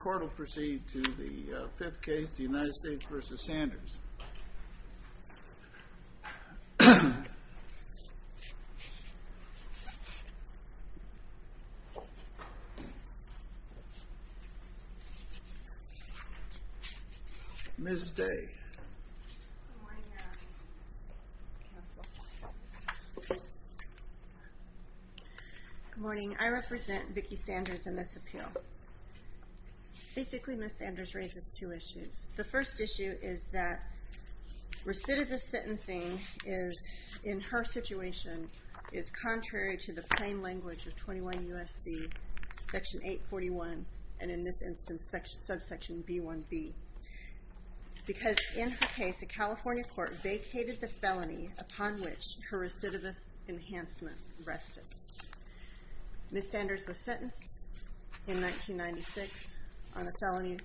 The court will proceed to the fifth case, the United States v. Sanders. Ms. Day. Good morning. I represent Vickie Sanders in this appeal. Basically Ms. Sanders raises two issues. The first issue is that recidivist sentencing in her situation is contrary to the plain language of 21 U.S.C. section 841 and in this instance subsection B1b. Because in her case a California court vacated the felony upon which her recidivist enhancement rested. Ms. Sanders was sentenced in 1996 on a felony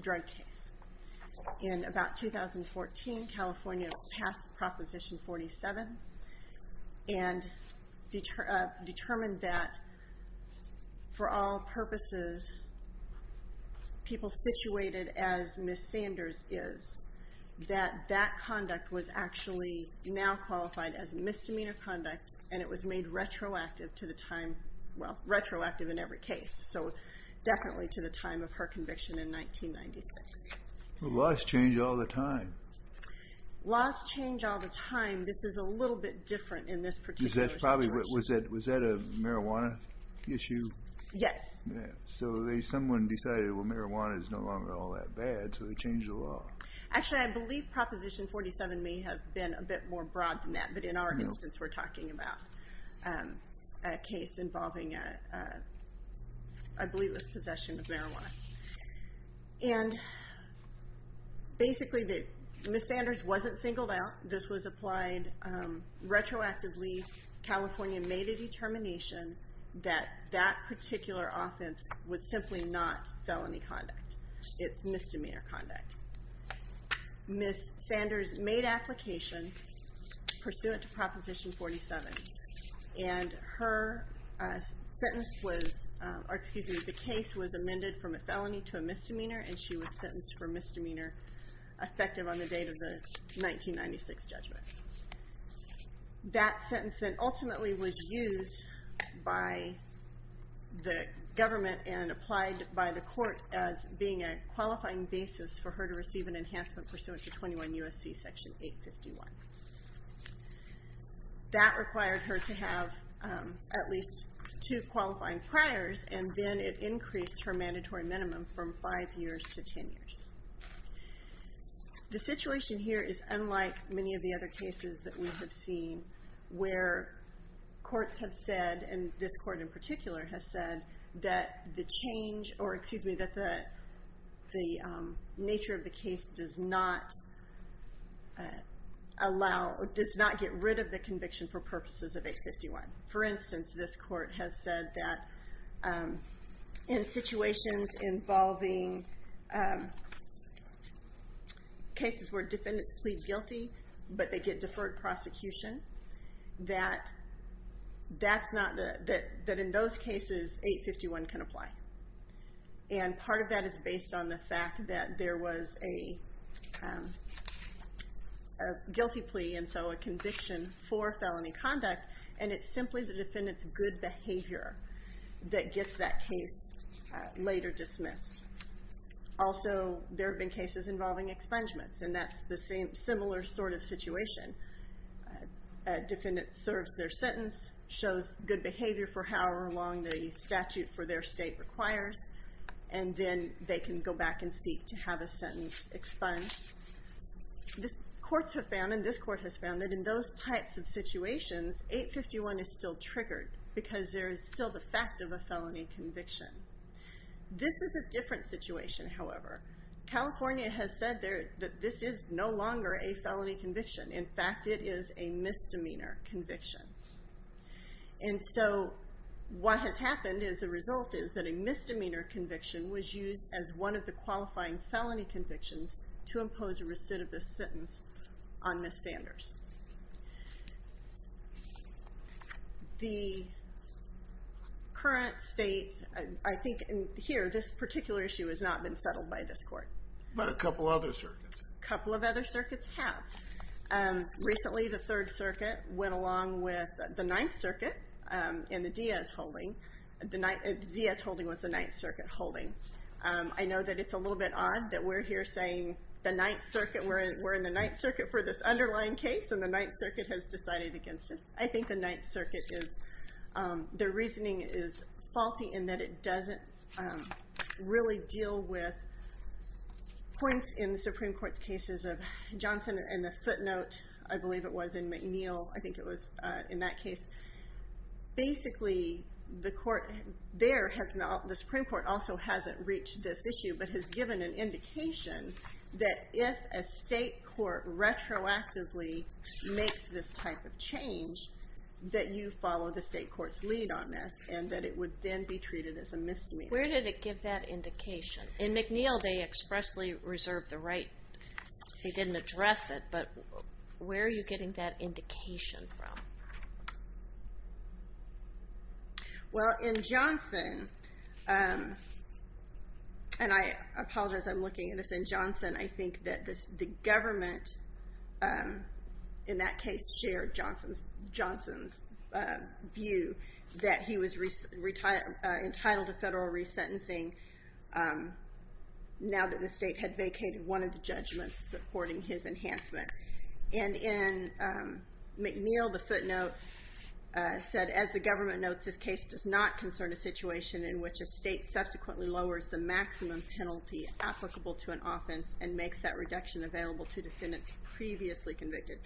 drug case. In about 2014 California passed Proposition 47 and determined that for all purposes people situated as Ms. Sanders is, that that conduct was actually now qualified as misdemeanor conduct and it was made retroactive to the time, well retroactive in every case. So definitely to the time of her conviction in 1996. Laws change all the time. Laws change all the time. This is a little bit different in this particular situation. Was that a marijuana issue? Yes. So someone decided well marijuana is no longer all that bad so they changed the law. Actually I believe Proposition 47 may have been a bit more broad than that but in our instance we're talking about a case involving I believe it was possession of marijuana. And basically Ms. Sanders wasn't singled out. This was applied retroactively. California made a determination that that particular offense was simply not felony conduct. It's misdemeanor conduct. Ms. Sanders made application pursuant to Proposition 47. And her sentence was, or excuse me, the case was amended from a felony to a misdemeanor and she was sentenced for misdemeanor effective on the date of the 1996 judgment. That sentence then ultimately was used by the government and applied by the court as being a qualifying basis for her to receive an enhancement pursuant to 21 U.S.C. Section 851. That required her to have at least two qualifying priors and then it increased her mandatory minimum from five years to ten years. The situation here is unlike many of the other cases that we have seen where courts have said, and this court in particular has said, that the nature of the case does not get rid of the conviction for purposes of 851. For instance, this court has said that in situations involving cases where defendants plead guilty but they get deferred prosecution, that in those cases 851 can apply. And part of that is based on the fact that there was a guilty plea and so a conviction for felony conduct and it's simply the defendant's good behavior that gets that case later dismissed. Also, there have been cases involving expungements and that's the similar sort of situation. A defendant serves their sentence, shows good behavior for however long the statute for their state requires, and then they can go back and seek to have a sentence expunged. Courts have found, and this court has found, that in those types of situations 851 is still triggered because there is still the fact of a felony conviction. This is a different situation, however. California has said that this is no longer a felony conviction. In fact, it is a misdemeanor conviction. And so what has happened as a result is that a misdemeanor conviction was used as one of the qualifying felony convictions to impose a recidivist sentence on Ms. Sanders. The current state, I think here, this particular issue has not been settled by this court. But a couple other circuits. A couple of other circuits have. Recently, the Third Circuit went along with the Ninth Circuit in the Diaz holding. The Diaz holding was the Ninth Circuit holding. I know that it's a little bit odd that we're here saying we're in the Ninth Circuit for this underlying case and the Ninth Circuit has decided against us. I think the Ninth Circuit, their reasoning is faulty in that it doesn't really deal with points in the Supreme Court's cases of Johnson and the footnote, I believe it was, in McNeil. I think it was in that case. Basically, the Supreme Court also hasn't reached this issue but has given an indication that if a state court retroactively makes this type of change, that you follow the state court's lead on this and that it would then be treated as a misdemeanor. Where did it give that indication? In McNeil, they expressly reserved the right. They didn't address it, but where are you getting that indication from? Well, in Johnson, and I apologize, I'm looking at this. In Johnson, I think that the government in that case shared Johnson's view that he was entitled to federal resentencing now that the state had vacated one of the judgments supporting his enhancement. And in McNeil, the footnote said, as the government notes, this case does not concern a situation in which a state subsequently lowers the maximum penalty applicable to an offense and makes that reduction available to defendants previously convicted.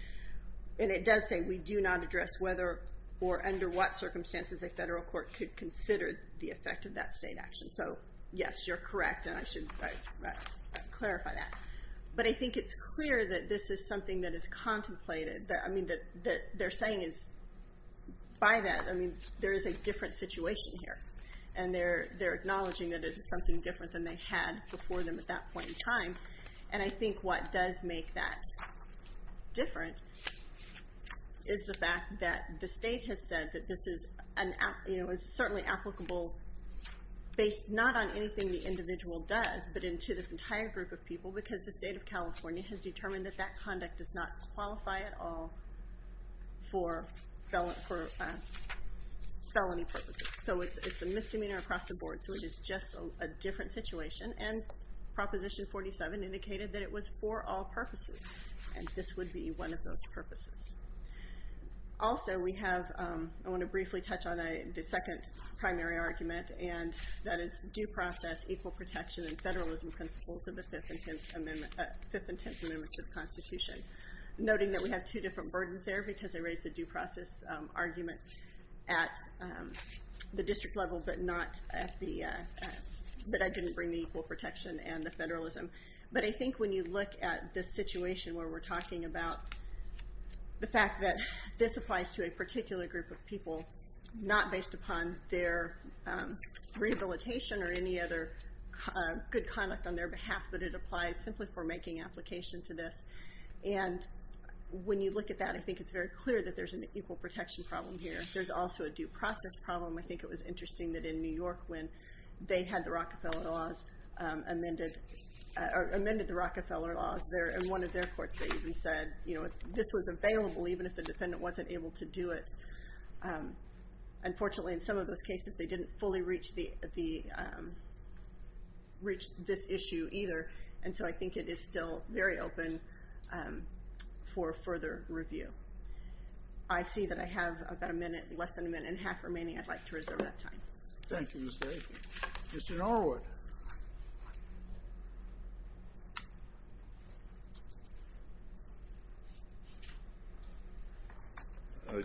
And it does say we do not address whether or under what circumstances a federal court could consider the effect of that state action. So, yes, you're correct, and I should clarify that. But I think it's clear that this is something that is contemplated. I mean, that they're saying is, by that, I mean, there is a different situation here. And they're acknowledging that it's something different than they had before them at that point in time. And I think what does make that different is the fact that the state has said that this is certainly applicable based not on anything the individual does but to this entire group of people because the state of California has determined that that conduct does not qualify at all for felony purposes. So it's a misdemeanor across the board, so it is just a different situation. And Proposition 47 indicated that it was for all purposes, and this would be one of those purposes. Also, we have, I want to briefly touch on the second primary argument, and that is due process, equal protection, and federalism principles of the Fifth and Tenth Amendments to the Constitution. Noting that we have two different burdens there because I raised the due process argument at the district level but I didn't bring the equal protection and the federalism. But I think when you look at this situation where we're talking about the fact that this applies to a particular group of people not based upon their rehabilitation or any other good conduct on their behalf but it applies simply for making application to this. And when you look at that, I think it's very clear that there's an equal protection problem here. There's also a due process problem. I think it was interesting that in New York when they had the Rockefeller laws amended, or amended the Rockefeller laws there in one of their courts that even said, you know, unfortunately in some of those cases they didn't fully reach this issue either. And so I think it is still very open for further review. I see that I have about a minute, less than a minute and a half remaining. I'd like to reserve that time. Thank you, Ms. Day. Mr. Norwood.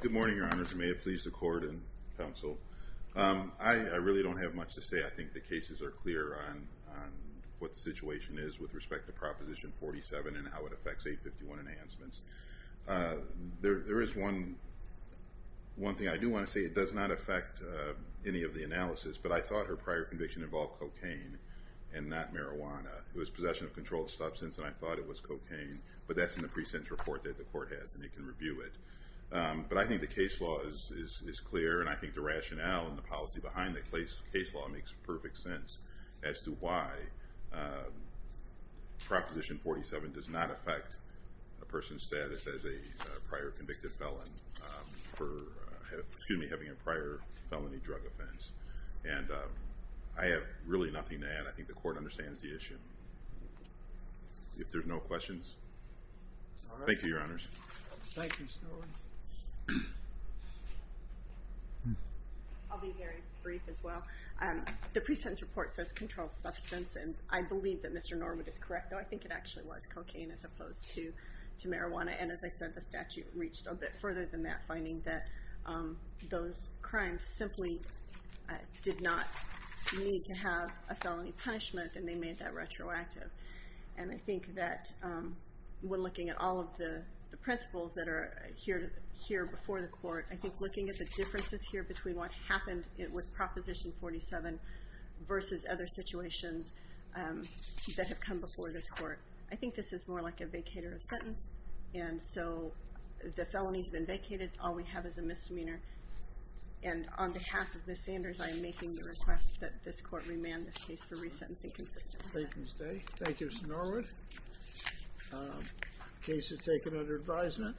Good morning, Your Honors. May it please the court and counsel. I really don't have much to say. I think the cases are clear on what the situation is with respect to Proposition 47 and how it affects 851 enhancements. There is one thing I do want to say. It does not affect any of the analysis, but I thought her prior conviction involved cocaine and not marijuana. It was possession of controlled substance, and I thought it was cocaine. But that's in the pre-sentence report that the court has, and you can review it. But I think the case law is clear, and I think the rationale and the policy behind the case law makes perfect sense as to why Proposition 47 does not affect a person's status as a prior convicted felon for having a prior felony drug offense. And I have really nothing to add. I think the court understands the issue. If there's no questions. Thank you, Your Honors. Thank you, Mr. Norwood. I'll be very brief as well. The pre-sentence report says controlled substance, and I believe that Mr. Norwood is correct. No, I think it actually was cocaine as opposed to marijuana. And as I said, the statute reached a bit further than that, finding that those crimes simply did not need to have a felony punishment, and they made that retroactive. And I think that when looking at all of the principles that are here before the court, I think looking at the differences here between what happened with Proposition 47 versus other situations that have come before this court, I think this is more like a vacator of sentence. And so the felony has been vacated. All we have is a misdemeanor. And on behalf of Ms. Sanders, I am making the request that this court remand this case for resentencing consistently. Thank you, Ms. Day. Thank you, Mr. Norwood. Case is taken under advisement.